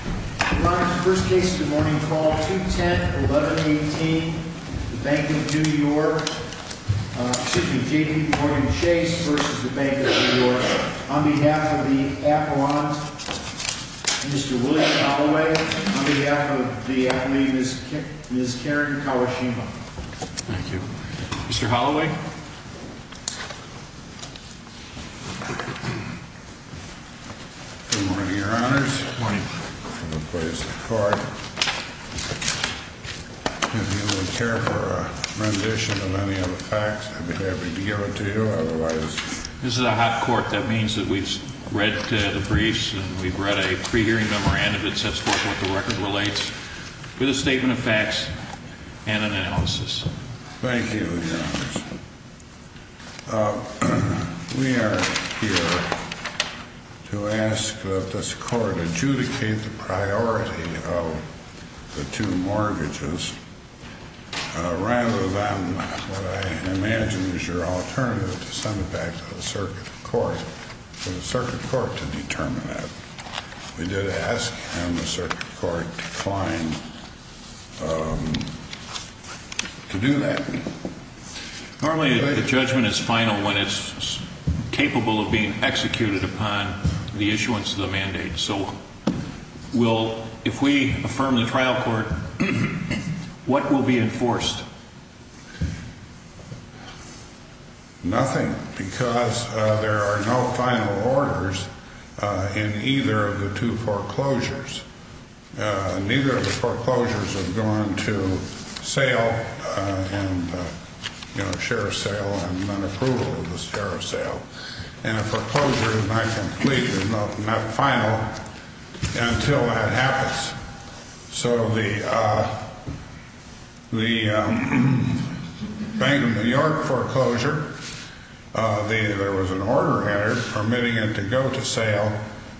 Your Honor, this is the first case of the morning, call 210-1118, Bank of New York. Excuse me, J.P. Morgan Chase v. Bank of New York. On behalf of the appellant, Mr. William Holloway. On behalf of the athlete, Ms. Karen Kawashima. Thank you. Mr. Holloway. Good morning, Your Honors. Good morning. I'm going to place the card. If you would care for a rendition of any of the facts, I'd be happy to give it to you. Otherwise... This is a hot court. That means that we've read the briefs and we've read a pre-hearing memorandum that sets forth what the record relates with a statement of facts and an analysis. Thank you, Your Honors. We are here to ask that this court adjudicate the priority of the two mortgages rather than what I imagine is your alternative to send it back to the circuit court. For the circuit court to determine that. We did ask and the circuit court declined to do that. Normally, the judgment is final when it's capable of being executed upon the issuance of the mandate. So, if we affirm the trial court, what will be enforced? Nothing, because there are no final orders in either of the two foreclosures. Neither of the foreclosures have gone to sale and, you know, share of sale and non-approval of the share of sale. And a foreclosure is not complete, is not final, until that happens. So, the Bank of New York foreclosure, there was an order entered permitting it to go to sale.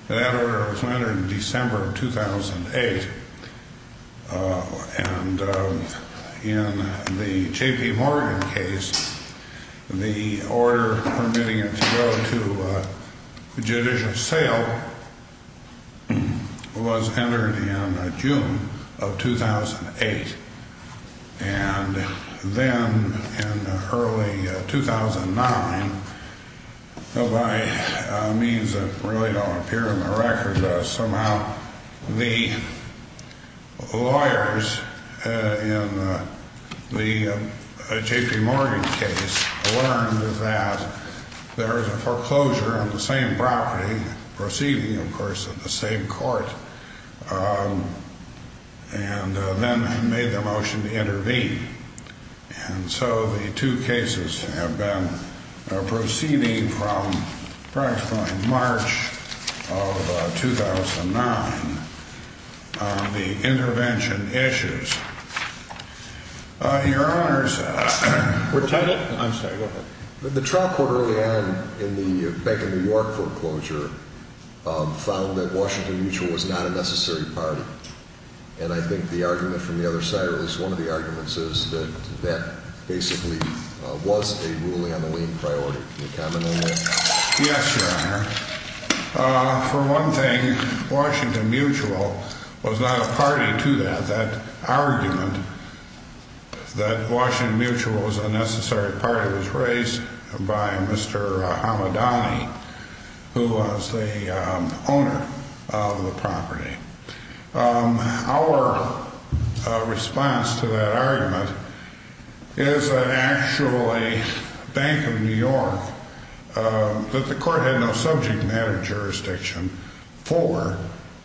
That order was entered in December of 2008. And in the J.P. Morgan case, the order permitting it to go to judicial sale was entered in June of 2008. And then in early 2009, by means that really don't appear in the record, somehow the lawyers in the J.P. Morgan case learned that there is a foreclosure on the same property, proceeding, of course, at the same court, and then made the motion to intervene. And so, the two cases have been proceeding from approximately March of 2009 on the intervention issues. Your Honor, sir. I'm sorry. Go ahead. The trial court early on in the Bank of New York foreclosure found that Washington Mutual was not a necessary party. And I think the argument from the other side, or at least one of the arguments, is that that basically was a ruling on the lien priority. Can you comment on that? Yes, Your Honor. For one thing, Washington Mutual was not a party to that. That argument that Washington Mutual was a necessary party was raised by Mr. Hamadani, who was the owner of the property. Our response to that argument is that actually Bank of New York, that the court had no subject matter jurisdiction for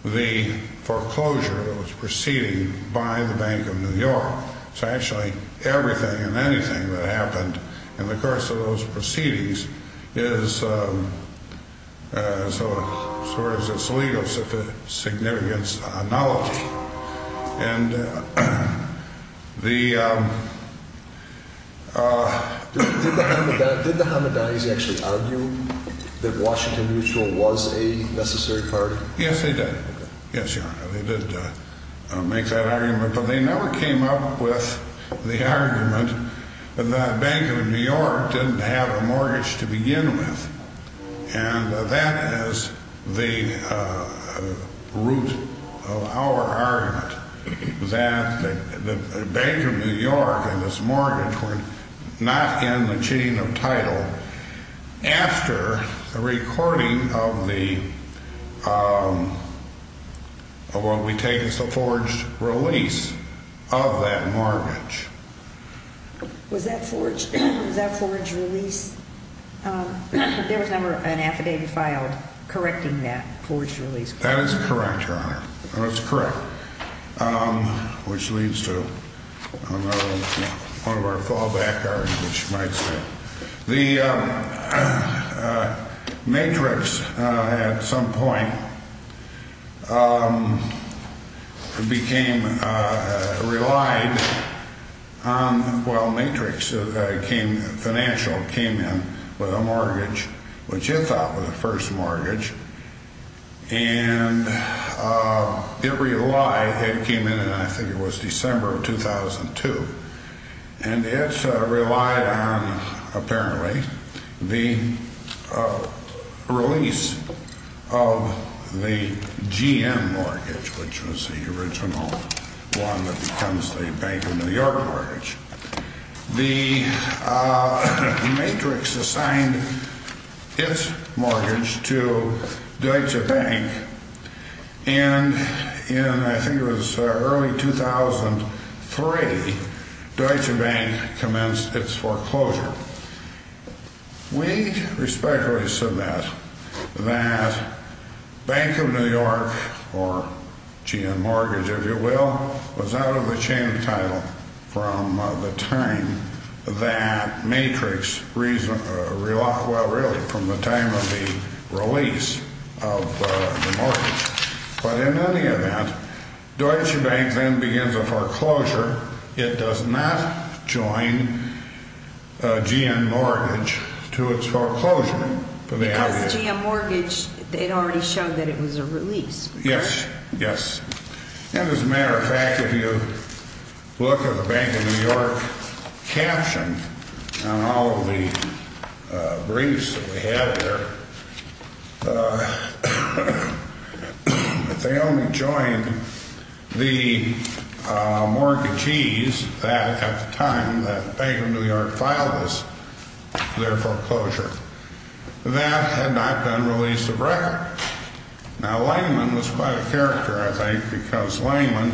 the foreclosure that was proceeding by the Bank of New York. So, actually, everything and anything that happened in the course of those proceedings is sort of its legal significance analogy. And the... Did the Hamadani's actually argue that Washington Mutual was a necessary party? Yes, they did. Yes, Your Honor, they did make that argument. But they never came up with the argument that Bank of New York didn't have a mortgage to begin with. And that is the root of our argument, that Bank of New York and its mortgage were not in the chain of title after the recording of the... of what we take as the forged release of that mortgage. Was that forged release... there was never an affidavit filed correcting that forged release? That is correct, Your Honor. That is correct. Which leads to another one of our fallback arguments, you might say. The matrix, at some point, became... relied on... well, matrix came... financial came in with a mortgage, which it thought was a first mortgage. And it relied... it came in, I think it was December of 2002. And it relied on, apparently, the release of the GM mortgage, which was the original one that becomes the Bank of New York mortgage. The matrix assigned its mortgage to Deutsche Bank, and in, I think it was early 2003, Deutsche Bank commenced its foreclosure. We respectfully submit that Bank of New York, or GM mortgage, if you will, was out of the chain of title from the time that matrix relied... well, really, from the time of the release of the mortgage. But in any event, Deutsche Bank then begins a foreclosure. It does not join a GM mortgage to its foreclosure. Because the GM mortgage, it already showed that it was a release. Yes, yes. And as a matter of fact, if you look at the Bank of New York caption on all of the briefs that we have here, they only joined the mortgages that, at the time that Bank of New York filed this, their foreclosure. That had not been released of record. Now Langman was quite a character, I think, because Langman,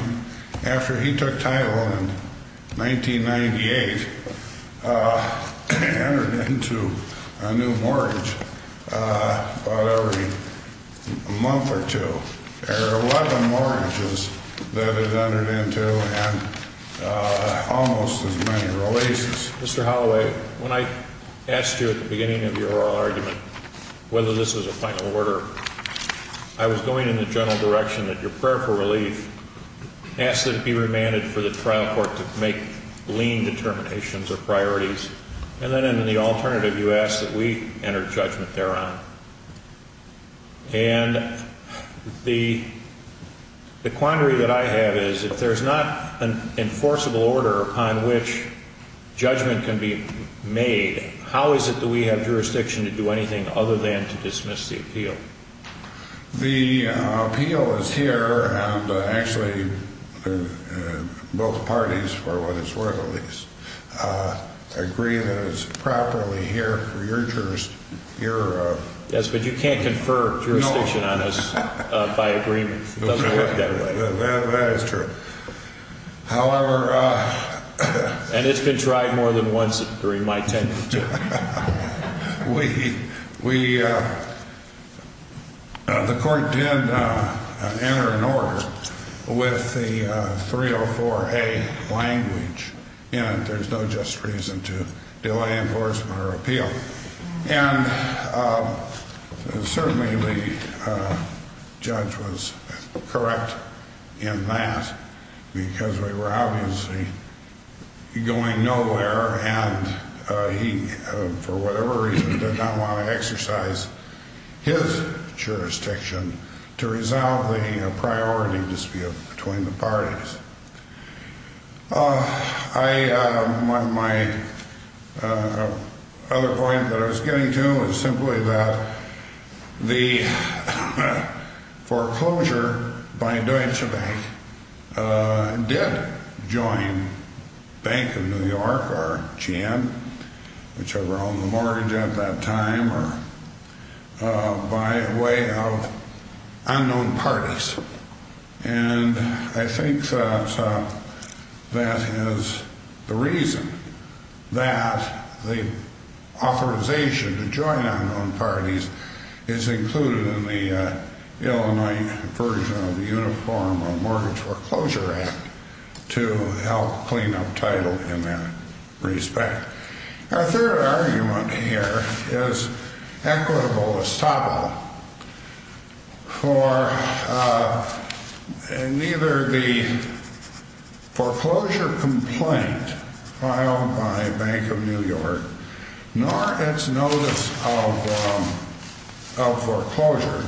after he took title in 1998, entered into a new mortgage about every month or two. There were 11 mortgages that it entered into and almost as many releases. Mr. Holloway, when I asked you at the beginning of your oral argument whether this was a final order, I was going in the general direction that your prayer for relief asked that it be remanded for the trial court to make lean determinations or priorities. And then in the alternative, you asked that we enter judgment thereon. And the quandary that I have is, if there's not an enforceable order upon which judgment can be made, how is it that we have jurisdiction to do anything other than to dismiss the appeal? The appeal is here, and actually both parties, for what it's worth at least, agree that it's properly here for your jurisdiction. Yes, but you can't confer jurisdiction on us by agreement. It doesn't work that way. That is true. However... And it's been tried more than once during my tenure, too. The court did enter an order with the 304A language in it. There's no just reason to delay enforcement or appeal. And certainly the judge was correct in that, because we were obviously going nowhere, and he, for whatever reason, did not want to exercise his jurisdiction to resolve the priority dispute between the parties. My other point that I was getting to is simply that the foreclosure by Deutsche Bank did join Bank of New York or GM, whichever owned the mortgage at that time, by way of unknown parties. And I think that is the reason that the authorization to join unknown parties is included in the Illinois version of the Uniform Mortgage Foreclosure Act to help clean up title in that respect. Our third argument here is equitable as topical. Neither the foreclosure complaint filed by Bank of New York nor its notice of foreclosure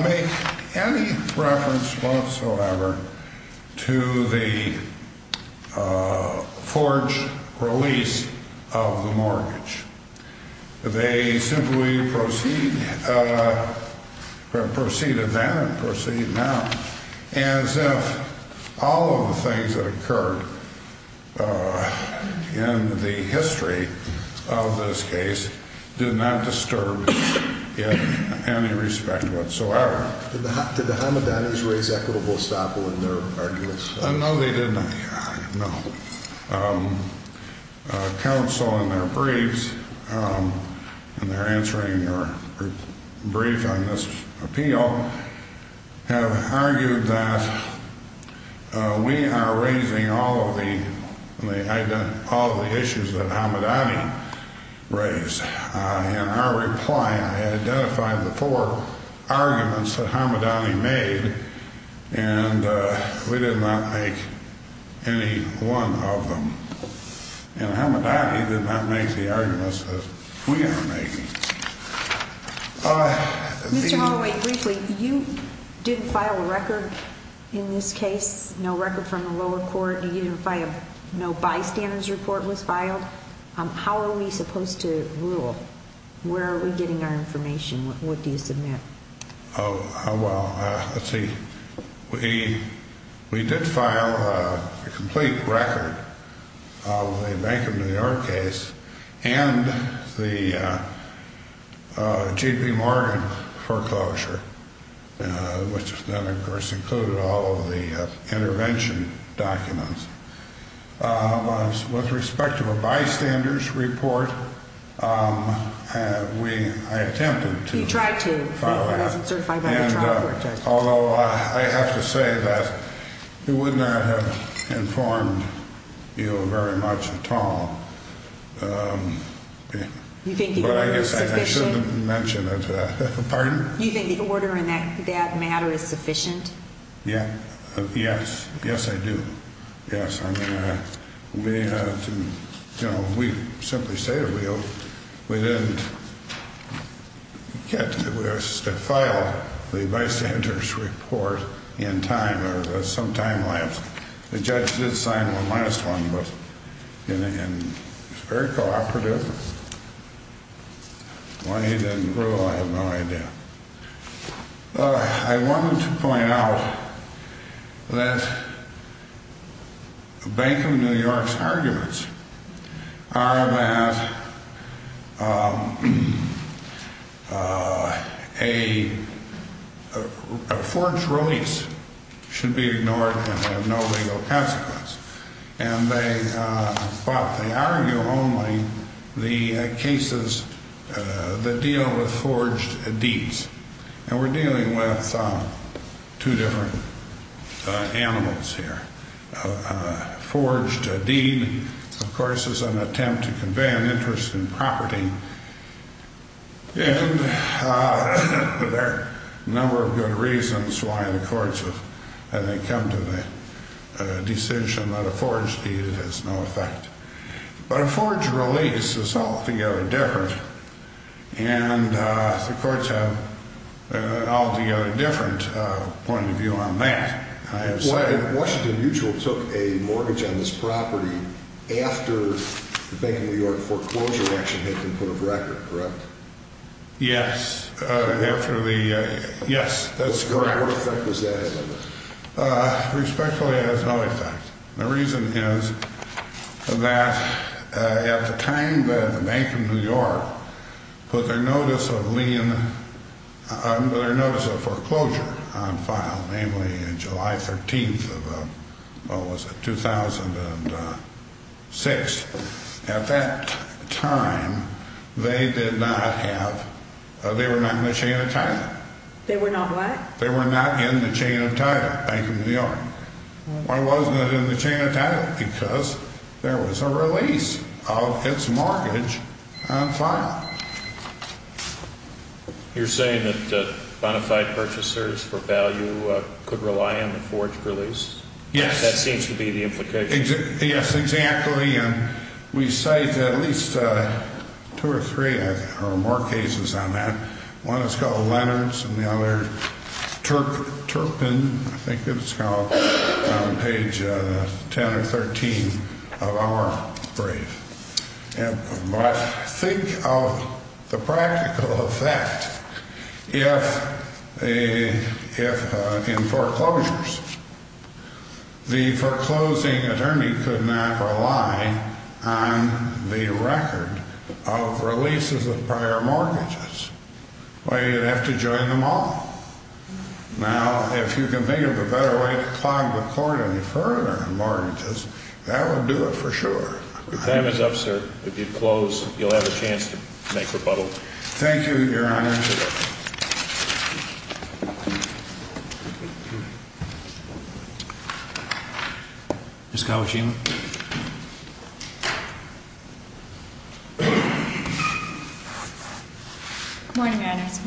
make any reference whatsoever to the forged release of the mortgage. They simply proceed, proceeded then and proceed now, as if all of the things that occurred in the history of this case did not disturb in any respect whatsoever. Did the Hamadanans raise equitable as topical in their arguments? No, they did not, no. Counsel in their briefs, and they're answering your brief on this appeal, have argued that we are raising all of the issues that Hamadani raised. In our reply, I identified the four arguments that Hamadani made, and we did not make any one of them. And Hamadani did not make the arguments that we are making. Mr. Holloway, briefly, you didn't file a record in this case, no record from the lower court, no bystanders report was filed. How are we supposed to rule? Where are we getting our information? What do you submit? Oh, well, let's see. We did file a complete record of the Bank of New York case and the JP Morgan foreclosure, which then of course included all of the intervention documents. With respect to a bystanders report, I attempted to file that, although I have to say that it would not have informed you very much at all. You think the order is sufficient? I guess I shouldn't mention it. Pardon? You think the order in that matter is sufficient? Yes. Yes, I do. Yes. I mean, to simply say the real, we didn't get to file the bystanders report in time or some time lapse. The judge did sign the last one, but it was very cooperative. Why he didn't rule, I have no idea. I wanted to point out that Bank of New York's arguments are that a forged release should be ignored and have no legal consequence. But they argue only the cases that deal with forged deeds. And we're dealing with two different animals here. A forged deed, of course, is an attempt to convey an interest in property, and there are a number of good reasons why the courts have come to the decision that a forged deed has no effect. But a forged release is altogether different, and the courts have an altogether different point of view on that. Washington Mutual took a mortgage on this property after the Bank of New York foreclosure action had been put on record, correct? Yes, that's correct. What effect does that have on this? Respectfully, it has no effect. The reason is that at the time that the Bank of New York put their notice of foreclosure on file, namely July 13th of 2006, at that time, they were not in the chain of title. They were not what? They were not in the chain of title, Bank of New York. Why wasn't it in the chain of title? Because there was a release of its mortgage on file. You're saying that bonafide purchasers for value could rely on the forged release? Yes. That seems to be the implication. Yes, exactly. And we cite at least two or three or more cases on that. One is called Leonard's, and the other, Turpin, I think it's called, on page 10 or 13 of our brief. But think of the practical effect if, in foreclosures, the foreclosing attorney could not rely on the record of releases of prior mortgages. Why, you'd have to join them all. Now, if you can think of a better way to clog the court any further on mortgages, that would do it for sure. Your time is up, sir. If you'd close, you'll have a chance to make rebuttal. Thank you, Your Honor. Ms. Kawashima. Good morning, Your Honors.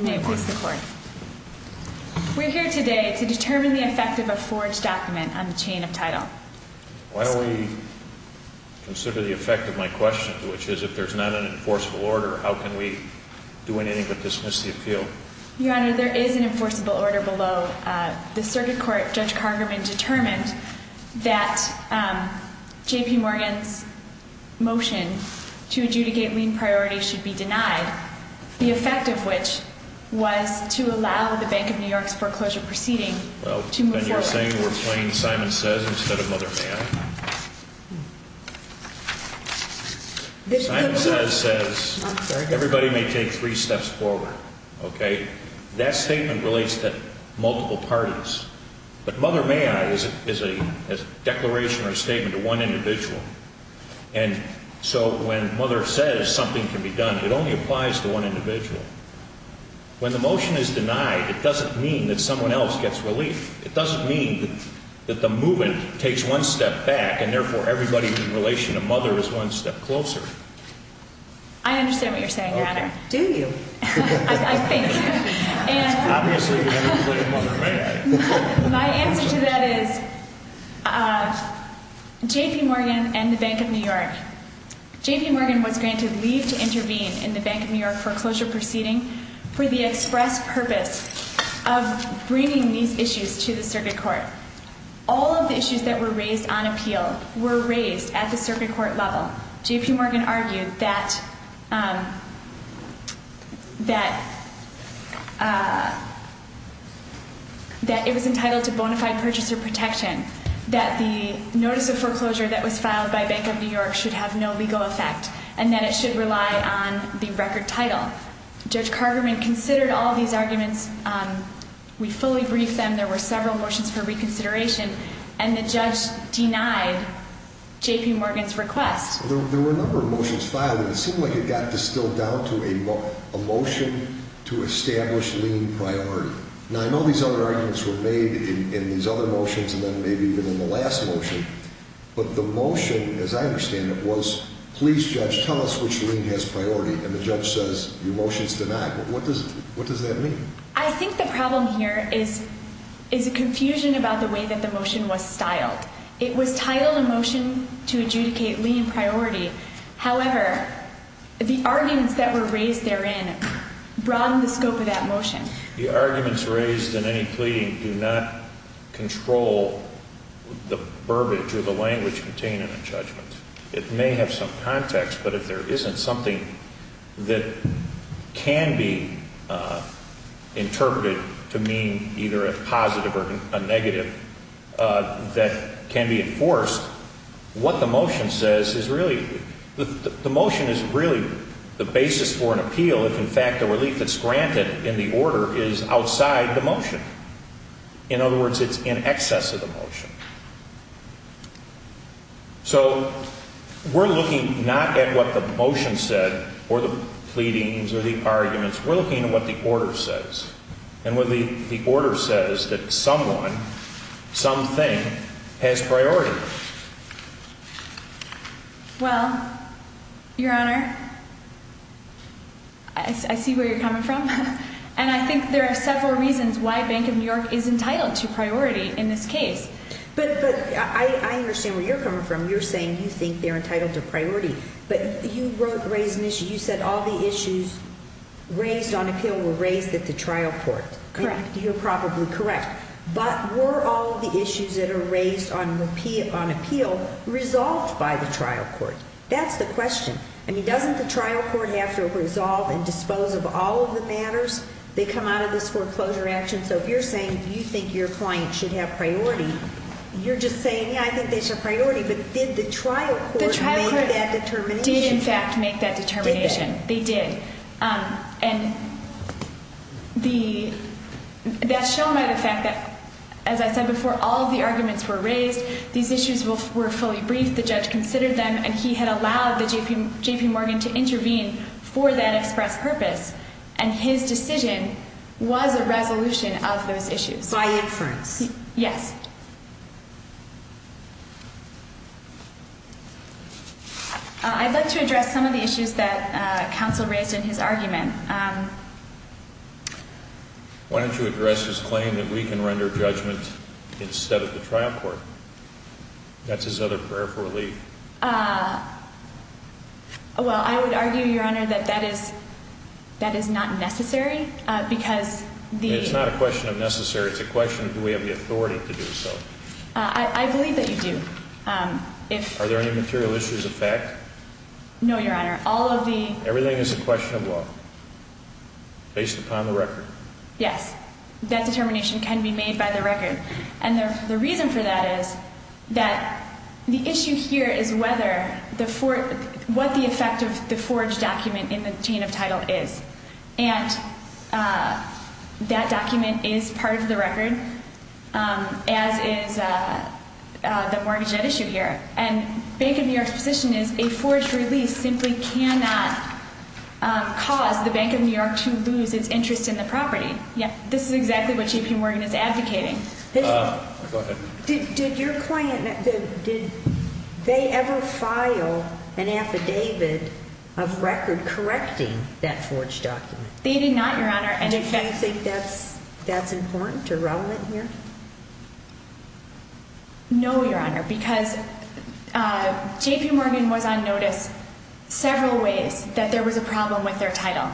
We're here today to determine the effect of a forged document on the chain of title. Why don't we consider the effect of my question, which is, if there's not an enforceable order, how can we do anything but dismiss the appeal? Your Honor, there is an enforceable order below. The circuit court, Judge Cargerman, determined that J.P. Morgan's motion to adjudicate lien priority should be denied, the effect of which was to allow the Bank of New York's foreclosure proceeding to move forward. You're saying we're playing Simon Says instead of Mother May I? Simon Says says everybody may take three steps forward, okay? That statement relates to multiple parties, but Mother May I is a declaration or a statement to one individual. And so when Mother says something can be done, it only applies to one individual. When the motion is denied, it doesn't mean that someone else gets relief. It doesn't mean that the movement takes one step back, and therefore everybody in relation to Mother is one step closer. I understand what you're saying, Your Honor. Do you? I think. Obviously, we're going to play Mother May I. My answer to that is J.P. Morgan and the Bank of New York. J.P. Morgan was granted leave to intervene in the Bank of New York foreclosure proceeding for the express purpose of bringing these issues to the circuit court. All of the issues that were raised on appeal were raised at the circuit court level. J.P. Morgan argued that it was entitled to bona fide purchaser protection, that the notice of foreclosure that was filed by Bank of New York should have no legal effect, and that it should rely on the record title. Judge Cargerman considered all these arguments. We fully briefed them. There were several motions for reconsideration, and the judge denied J.P. Morgan's request. There were a number of motions filed, and it seemed like it got distilled down to a motion to establish lien priority. Now, I know these other arguments were made in these other motions and then maybe even in the last motion, but the motion, as I understand it, was, please, judge, tell us which lien has priority, and the judge says, your motion's denied. What does that mean? I think the problem here is a confusion about the way that the motion was styled. It was titled a motion to adjudicate lien priority. However, the arguments that were raised therein broaden the scope of that motion. The arguments raised in any pleading do not control the verbiage or the language contained in a judgment. It may have some context, but if there isn't something that can be interpreted to mean either a positive or a negative that can be enforced, what the motion says is really, the motion is really the basis for an appeal. If, in fact, the relief that's granted in the order is outside the motion. In other words, it's in excess of the motion. So we're looking not at what the motion said or the pleadings or the arguments. We're looking at what the order says, and what the order says that someone, some thing, has priority. Well, your honor, I see where you're coming from, and I think there are several reasons why Bank of New York is entitled to priority in this case. But I understand where you're coming from. You're saying you think they're entitled to priority. But you raised an issue. You said all the issues raised on appeal were raised at the trial court. Correct. You're probably correct. But were all the issues that are raised on appeal resolved by the trial court? That's the question. I mean, doesn't the trial court have to resolve and dispose of all of the matters that come out of this foreclosure action? So if you're saying you think your client should have priority, you're just saying, yeah, I think they should have priority. But did the trial court make that determination? The trial court did, in fact, make that determination. Did they? By inference? Yes. I'd like to address some of the issues that counsel raised in his argument. Why don't you address his claim that we can render judgment instead of the trial court? That's his other prayer for relief. Well, I would argue, Your Honor, that that is not necessary because the— It's not a question of necessary. It's a question of do we have the authority to do so. I believe that you do. Are there any material issues of fact? No, Your Honor. All of the— Everything is a question of law based upon the record. Yes, that determination can be made by the record. And the reason for that is that the issue here is what the effect of the forged document in the chain of title is. And that document is part of the record, as is the mortgage debt issue here. And Bank of New York's position is a forged release simply cannot cause the Bank of New York to lose its interest in the property. This is exactly what J.P. Morgan is advocating. Go ahead. Did your client—did they ever file an affidavit of record correcting that forged document? They did not, Your Honor. Do you think that's important or relevant here? No, Your Honor, because J.P. Morgan was on notice several ways that there was a problem with their title.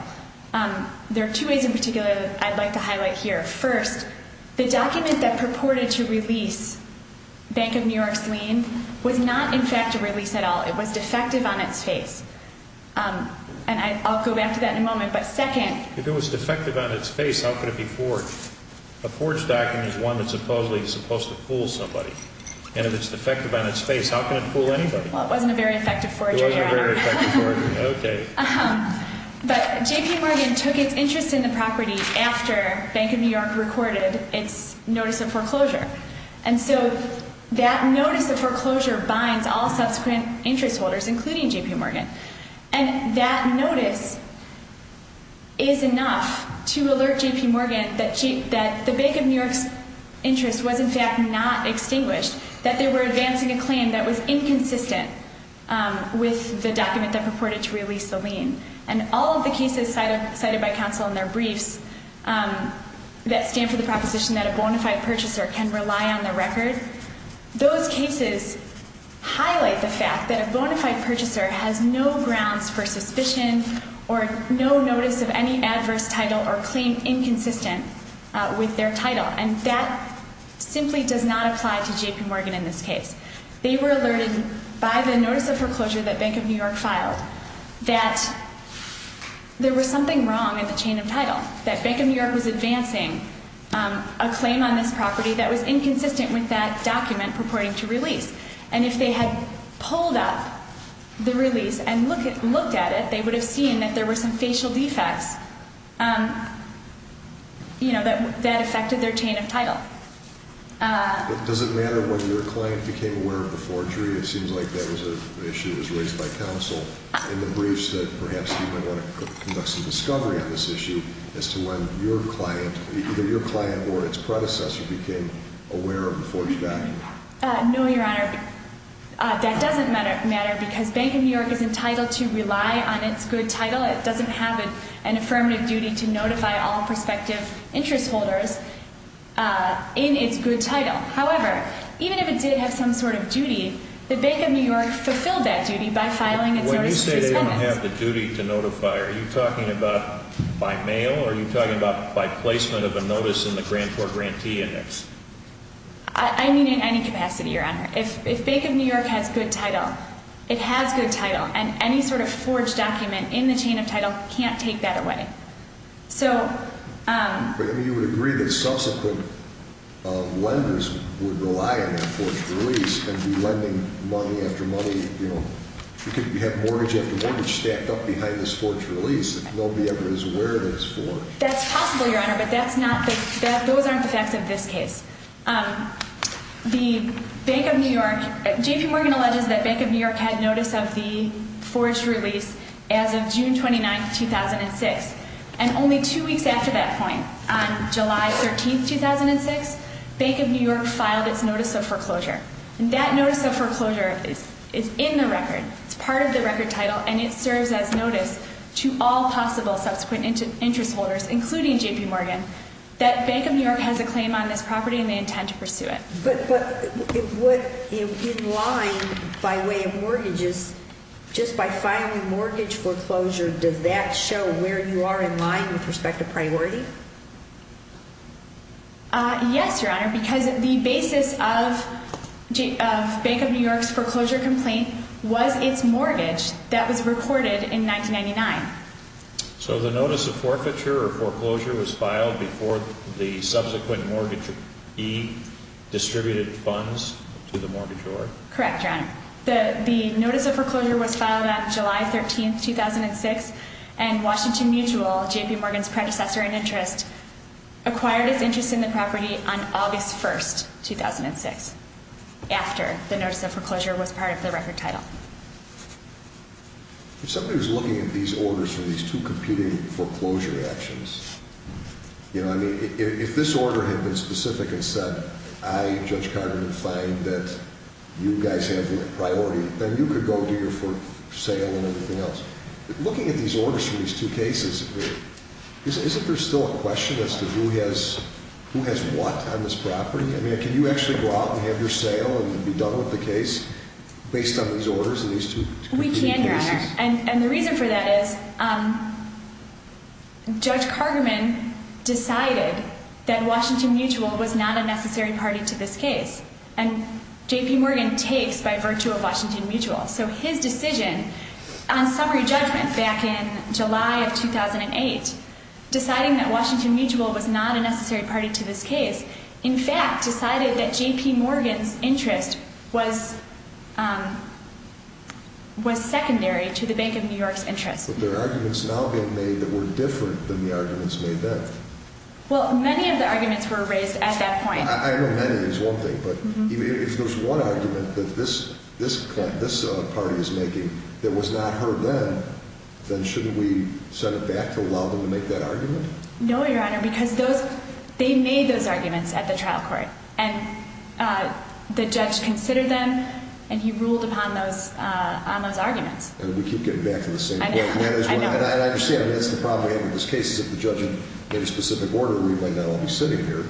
There are two ways in particular that I'd like to highlight here. First, the document that purported to release Bank of New York's lien was not in fact a release at all. It was defective on its face. And I'll go back to that in a moment. But second— If it was defective on its face, how could it be forged? A forged document is one that supposedly is supposed to fool somebody. And if it's defective on its face, how can it fool anybody? Well, it wasn't a very effective forgery, Your Honor. It wasn't a very effective forgery. Okay. But J.P. Morgan took its interest in the property after Bank of New York recorded its notice of foreclosure. And so that notice of foreclosure binds all subsequent interest holders, including J.P. Morgan. And that notice is enough to alert J.P. Morgan that the Bank of New York's interest was in fact not extinguished, that they were advancing a claim that was inconsistent with the document that purported to release the lien. And all of the cases cited by counsel in their briefs that stand for the proposition that a bona fide purchaser can rely on their record, those cases highlight the fact that a bona fide purchaser has no grounds for suspicion or no notice of any adverse title or claim inconsistent with their title. And that simply does not apply to J.P. Morgan in this case. They were alerted by the notice of foreclosure that Bank of New York filed that there was something wrong in the chain of title, that Bank of New York was advancing a claim on this property that was inconsistent with that document purporting to release. And if they had pulled up the release and looked at it, they would have seen that there were some facial defects, you know, that affected their chain of title. Does it matter whether your client became aware of the forgery? It seems like that was an issue that was raised by counsel in the briefs that perhaps you might want to conduct some discovery on this issue as to when your client, either your client or its predecessor, became aware of the forgery value. No, Your Honor. That doesn't matter because Bank of New York is entitled to rely on its good title. It doesn't have an affirmative duty to notify all prospective interest holders in its good title. However, even if it did have some sort of duty, the Bank of New York fulfilled that duty by filing its notice of correspondence. When you say they don't have the duty to notify, are you talking about by mail, or are you talking about by placement of a notice in the grantor-grantee index? I mean in any capacity, Your Honor. If Bank of New York has good title, it has good title, and any sort of forged document in the chain of title can't take that away. But you would agree that subsequent lenders would rely on that forged release and be lending money after money. You could have mortgage after mortgage stacked up behind this forged release. Nobody ever is aware that it's forged. That's possible, Your Honor, but those aren't the facts of this case. J.P. Morgan alleges that Bank of New York had notice of the forged release as of June 29, 2006, and only two weeks after that point, on July 13, 2006, Bank of New York filed its notice of foreclosure. That notice of foreclosure is in the record. It's part of the record title, and it serves as notice to all possible subsequent interest holders, including J.P. Morgan, that Bank of New York has a claim on this property and they intend to pursue it. But in line by way of mortgages, just by filing mortgage foreclosure, does that show where you are in line with respect to priority? Yes, Your Honor, because the basis of Bank of New York's foreclosure complaint was its mortgage that was recorded in 1999. So the notice of forfeiture or foreclosure was filed before the subsequent mortgagee distributed funds to the mortgagor? Correct, Your Honor. The notice of foreclosure was filed on July 13, 2006, and Washington Mutual, J.P. Morgan's predecessor in interest, acquired its interest in the property on August 1, 2006, after the notice of foreclosure was part of the record title. If somebody was looking at these orders for these two competing foreclosure actions, you know, I mean, if this order had been specific and said, I, Judge Carter, would find that you guys have priority, then you could go do your sale and everything else. Looking at these orders for these two cases, isn't there still a question as to who has what on this property? I mean, can you actually go out and have your sale and be done with the case based on these orders and these two competing cases? We can, Your Honor, and the reason for that is Judge Carterman decided that Washington Mutual was not a necessary party to this case, and J.P. Morgan takes by virtue of Washington Mutual. So his decision on summary judgment back in July of 2008, deciding that Washington Mutual was not a necessary party to this case, in fact, decided that J.P. Morgan's interest was secondary to the Bank of New York's interest. But there are arguments now being made that were different than the arguments made then. Well, many of the arguments were raised at that point. I know many is one thing, but if there's one argument that this party is making that was not heard then, then shouldn't we set it back to allow them to make that argument? No, Your Honor, because they made those arguments at the trial court. And the judge considered them, and he ruled upon those arguments. And we keep getting back to the same point. I know. I understand. I mean, that's the problem we have with this case is if the judge made a specific order, we might not all be sitting here.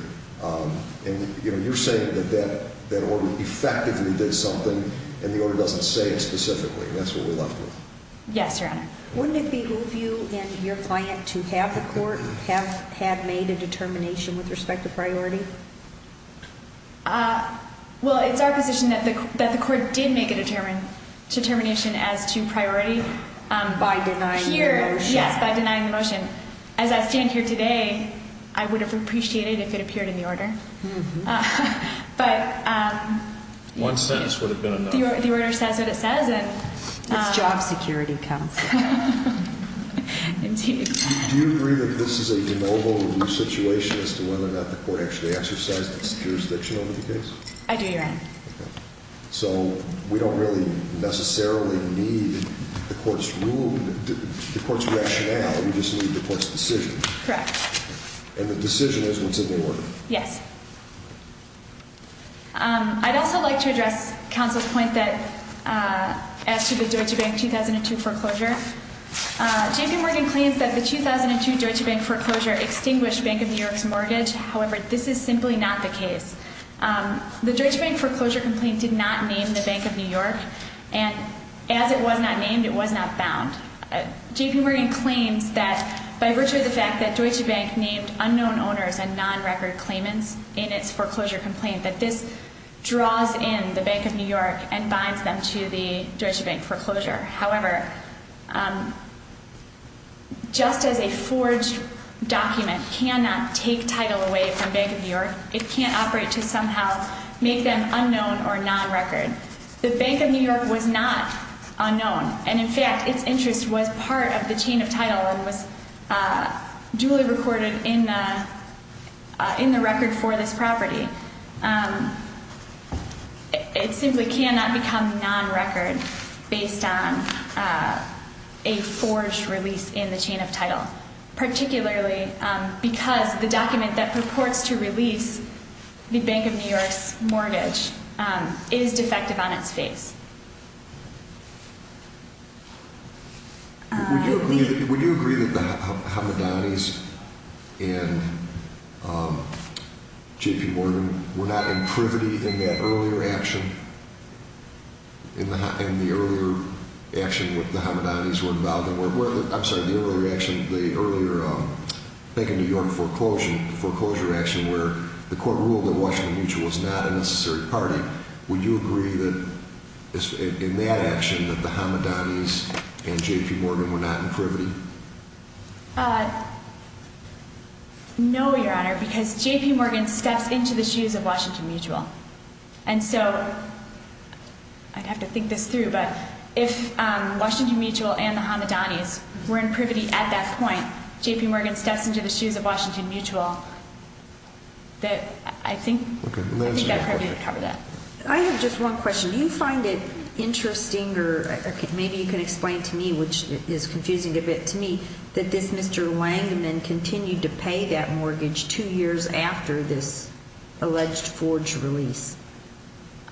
And, you know, you're saying that that order effectively did something, and the order doesn't say it specifically. That's what we're left with. Yes, Your Honor. Wouldn't it behoove you and your client to have the court have made a determination with respect to priority? Well, it's our position that the court did make a determination as to priority. By denying the motion. Yes, by denying the motion. As I stand here today, I would have appreciated if it appeared in the order. But the order says what it says. It's job security, Counsel. Indeed. Do you agree that this is a de novo situation as to whether or not the court actually exercised its jurisdiction over the case? I do, Your Honor. So we don't really necessarily need the court's rationale. We just need the court's decision. Correct. And the decision is what's in the order. Yes. I'd also like to address Counsel's point as to the Deutsche Bank 2002 foreclosure. JP Morgan claims that the 2002 Deutsche Bank foreclosure extinguished Bank of New York's mortgage. However, this is simply not the case. The Deutsche Bank foreclosure complaint did not name the Bank of New York. And as it was not named, it was not bound. JP Morgan claims that by virtue of the fact that Deutsche Bank named unknown owners and non-record claimants in its foreclosure complaint, that this draws in the Bank of New York and binds them to the Deutsche Bank foreclosure. However, just as a forged document cannot take title away from Bank of New York, it can't operate to somehow make them unknown or non-record. The Bank of New York was not unknown. And in fact, its interest was part of the chain of title and was duly recorded in the record for this property. It simply cannot become non-record based on a forged release in the chain of title, particularly because the document that purports to release the Bank of New York's mortgage is defective on its face. Would you agree that the Hamadanis and JP Morgan were not in privity in that earlier action? In the earlier action where the Hamadanis were involved? I'm sorry, the earlier action, the earlier Bank of New York foreclosure action, where the court ruled that Washington Mutual was not a necessary party. Would you agree that in that action that the Hamadanis and JP Morgan were not in privity? No, Your Honor, because JP Morgan steps into the shoes of Washington Mutual. And so, I'd have to think this through, but if Washington Mutual and the Hamadanis were in privity at that point, and JP Morgan steps into the shoes of Washington Mutual, I think I'd probably cover that. I have just one question. Do you find it interesting, or maybe you can explain to me, which is confusing a bit to me, that this Mr. Langman continued to pay that mortgage two years after this alleged forged release?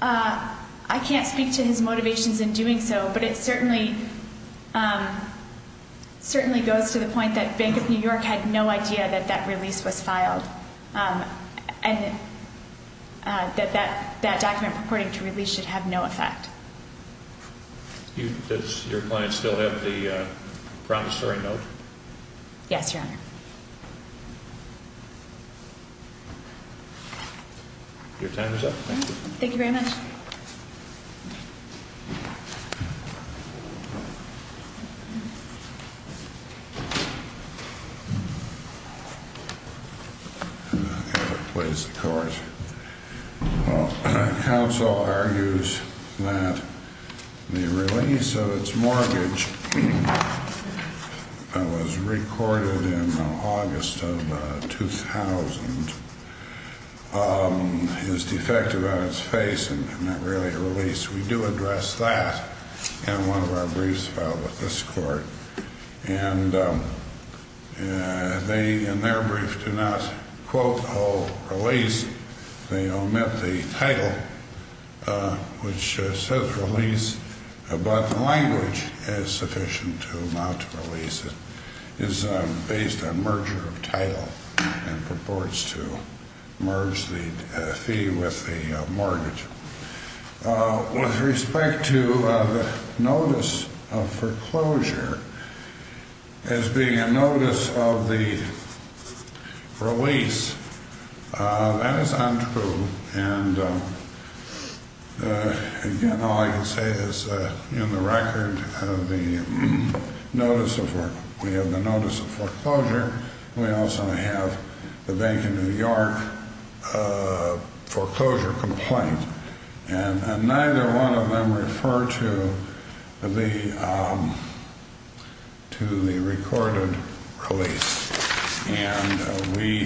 I can't speak to his motivations in doing so, but it certainly goes to the point that Bank of New York had no idea that that release was filed, and that that document purporting to release should have no effect. Does your client still have the promissory note? Yes, Your Honor. Your time is up. Thank you very much. I've got to place the court. Counsel argues that the release of its mortgage that was recorded in August of 2000 is defective on its face and not really a release. We do address that in one of our briefs filed with this court. And they, in their brief, do not quote or release. They omit the title, which says release, but the language is sufficient to not release it. It is based on merger of title and purports to merge the fee with the mortgage. With respect to the notice of foreclosure as being a notice of the release, that is untrue. And again, all I can say is in the record of the notice of foreclosure, we also have the Bank of New York foreclosure complaint. And neither one of them refer to the recorded release. And we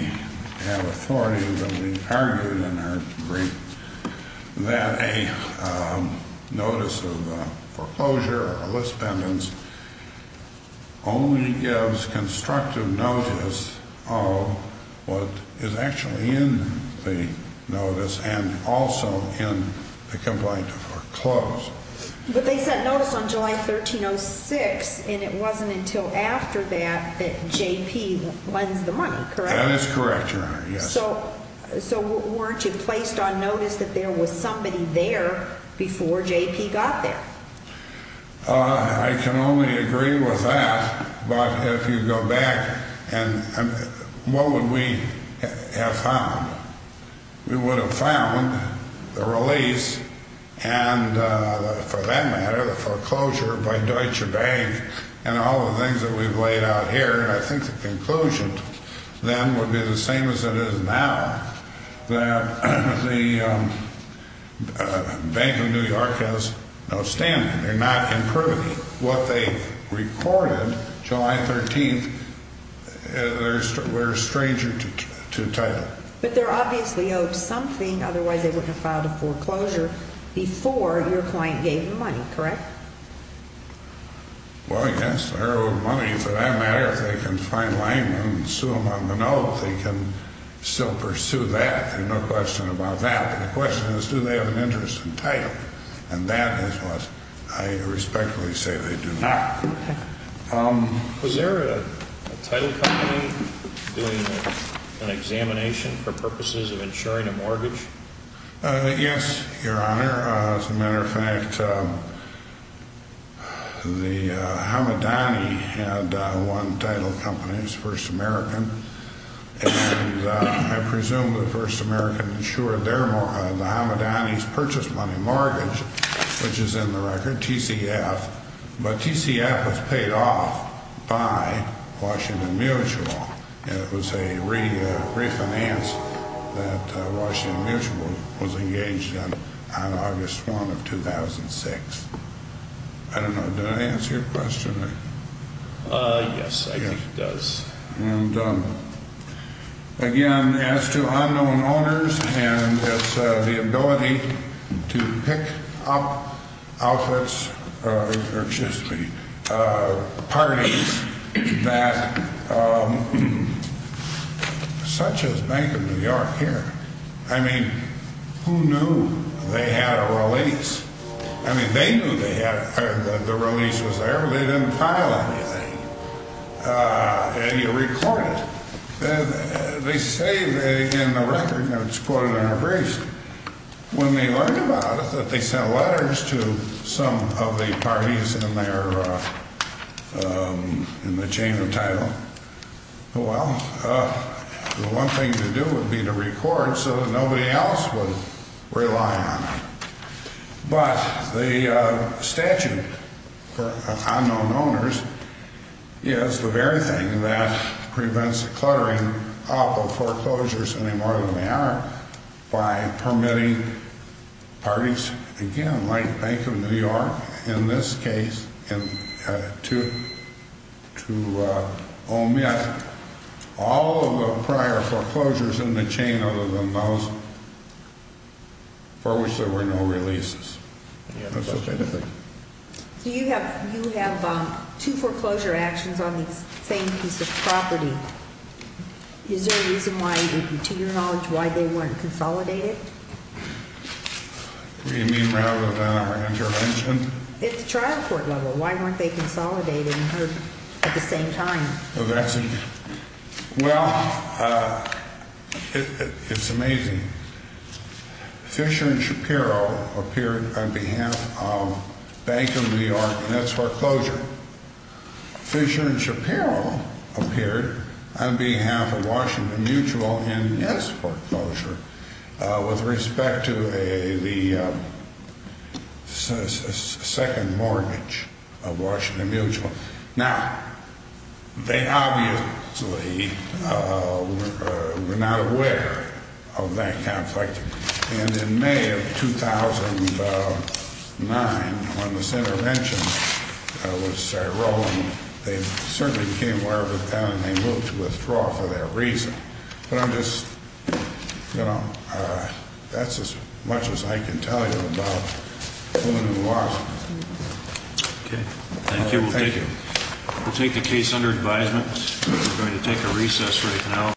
have authority that we've argued in our brief that a notice of foreclosure or a list pendants only gives constructive notice of what is actually in the notice and also in the complaint to foreclose. But they sent notice on July 1306, and it wasn't until after that that J.P. lends the money, correct? That is correct, Your Honor, yes. So weren't you placed on notice that there was somebody there before J.P. got there? I can only agree with that. But if you go back, what would we have found? We would have found the release and, for that matter, the foreclosure by Deutsche Bank and all the things that we've laid out here, and I think the conclusion then would be the same as it is now, that the Bank of New York has no standing. They're not improving. What they recorded July 13th, they're a stranger to title. But they're obviously owed something, otherwise they wouldn't have filed a foreclosure before your client gave them money, correct? Well, I guess they're owed money. For that matter, if they can find Langman and sue him on the note, they can still pursue that. There's no question about that. But the question is, do they have an interest in title? And that is what I respectfully say they do not. Was there a title company doing an examination for purposes of insuring a mortgage? Yes, Your Honor. As a matter of fact, the Hamadani had one title company. It was First American. And I presume the First American insured the Hamadani's purchase money mortgage, which is in the record, TCF. But TCF was paid off by Washington Mutual. And it was a refinance that Washington Mutual was engaged in on August 1 of 2006. I don't know. Does that answer your question? Yes, I think it does. And again, as to unknown owners and the ability to pick up outlets or parties such as Bank of New York here, I mean, who knew they had a release? I mean, they knew the release was there, but they didn't file anything. And you record it. They say in the record, and it's quoted in the briefs, when they learned about it that they sent letters to some of the parties in the chain of title, well, the one thing to do would be to record so that nobody else would rely on them. But the statute for unknown owners is the very thing that prevents the cluttering up of foreclosures any more than they are by permitting parties, again, like Bank of New York in this case, to omit all of the prior foreclosures in the chain other than those for which there were no releases. So you have two foreclosure actions on the same piece of property. Is there a reason why, to your knowledge, why they weren't consolidated? What do you mean rather than our intervention? It's trial court level. Why weren't they consolidated at the same time? Well, it's amazing. Fisher and Shapiro appeared on behalf of Bank of New York in this foreclosure. Fisher and Shapiro appeared on behalf of Washington Mutual in this foreclosure. With respect to the second mortgage of Washington Mutual. Now, they obviously were not aware of that conflict. And in May of 2009, when this intervention was rolling, they certainly became aware of it then and they moved to withdraw for that reason. But I'm just, you know, that's as much as I can tell you about who and who was. Okay. Thank you. We'll take the case under advisement. We're going to take a recess right now.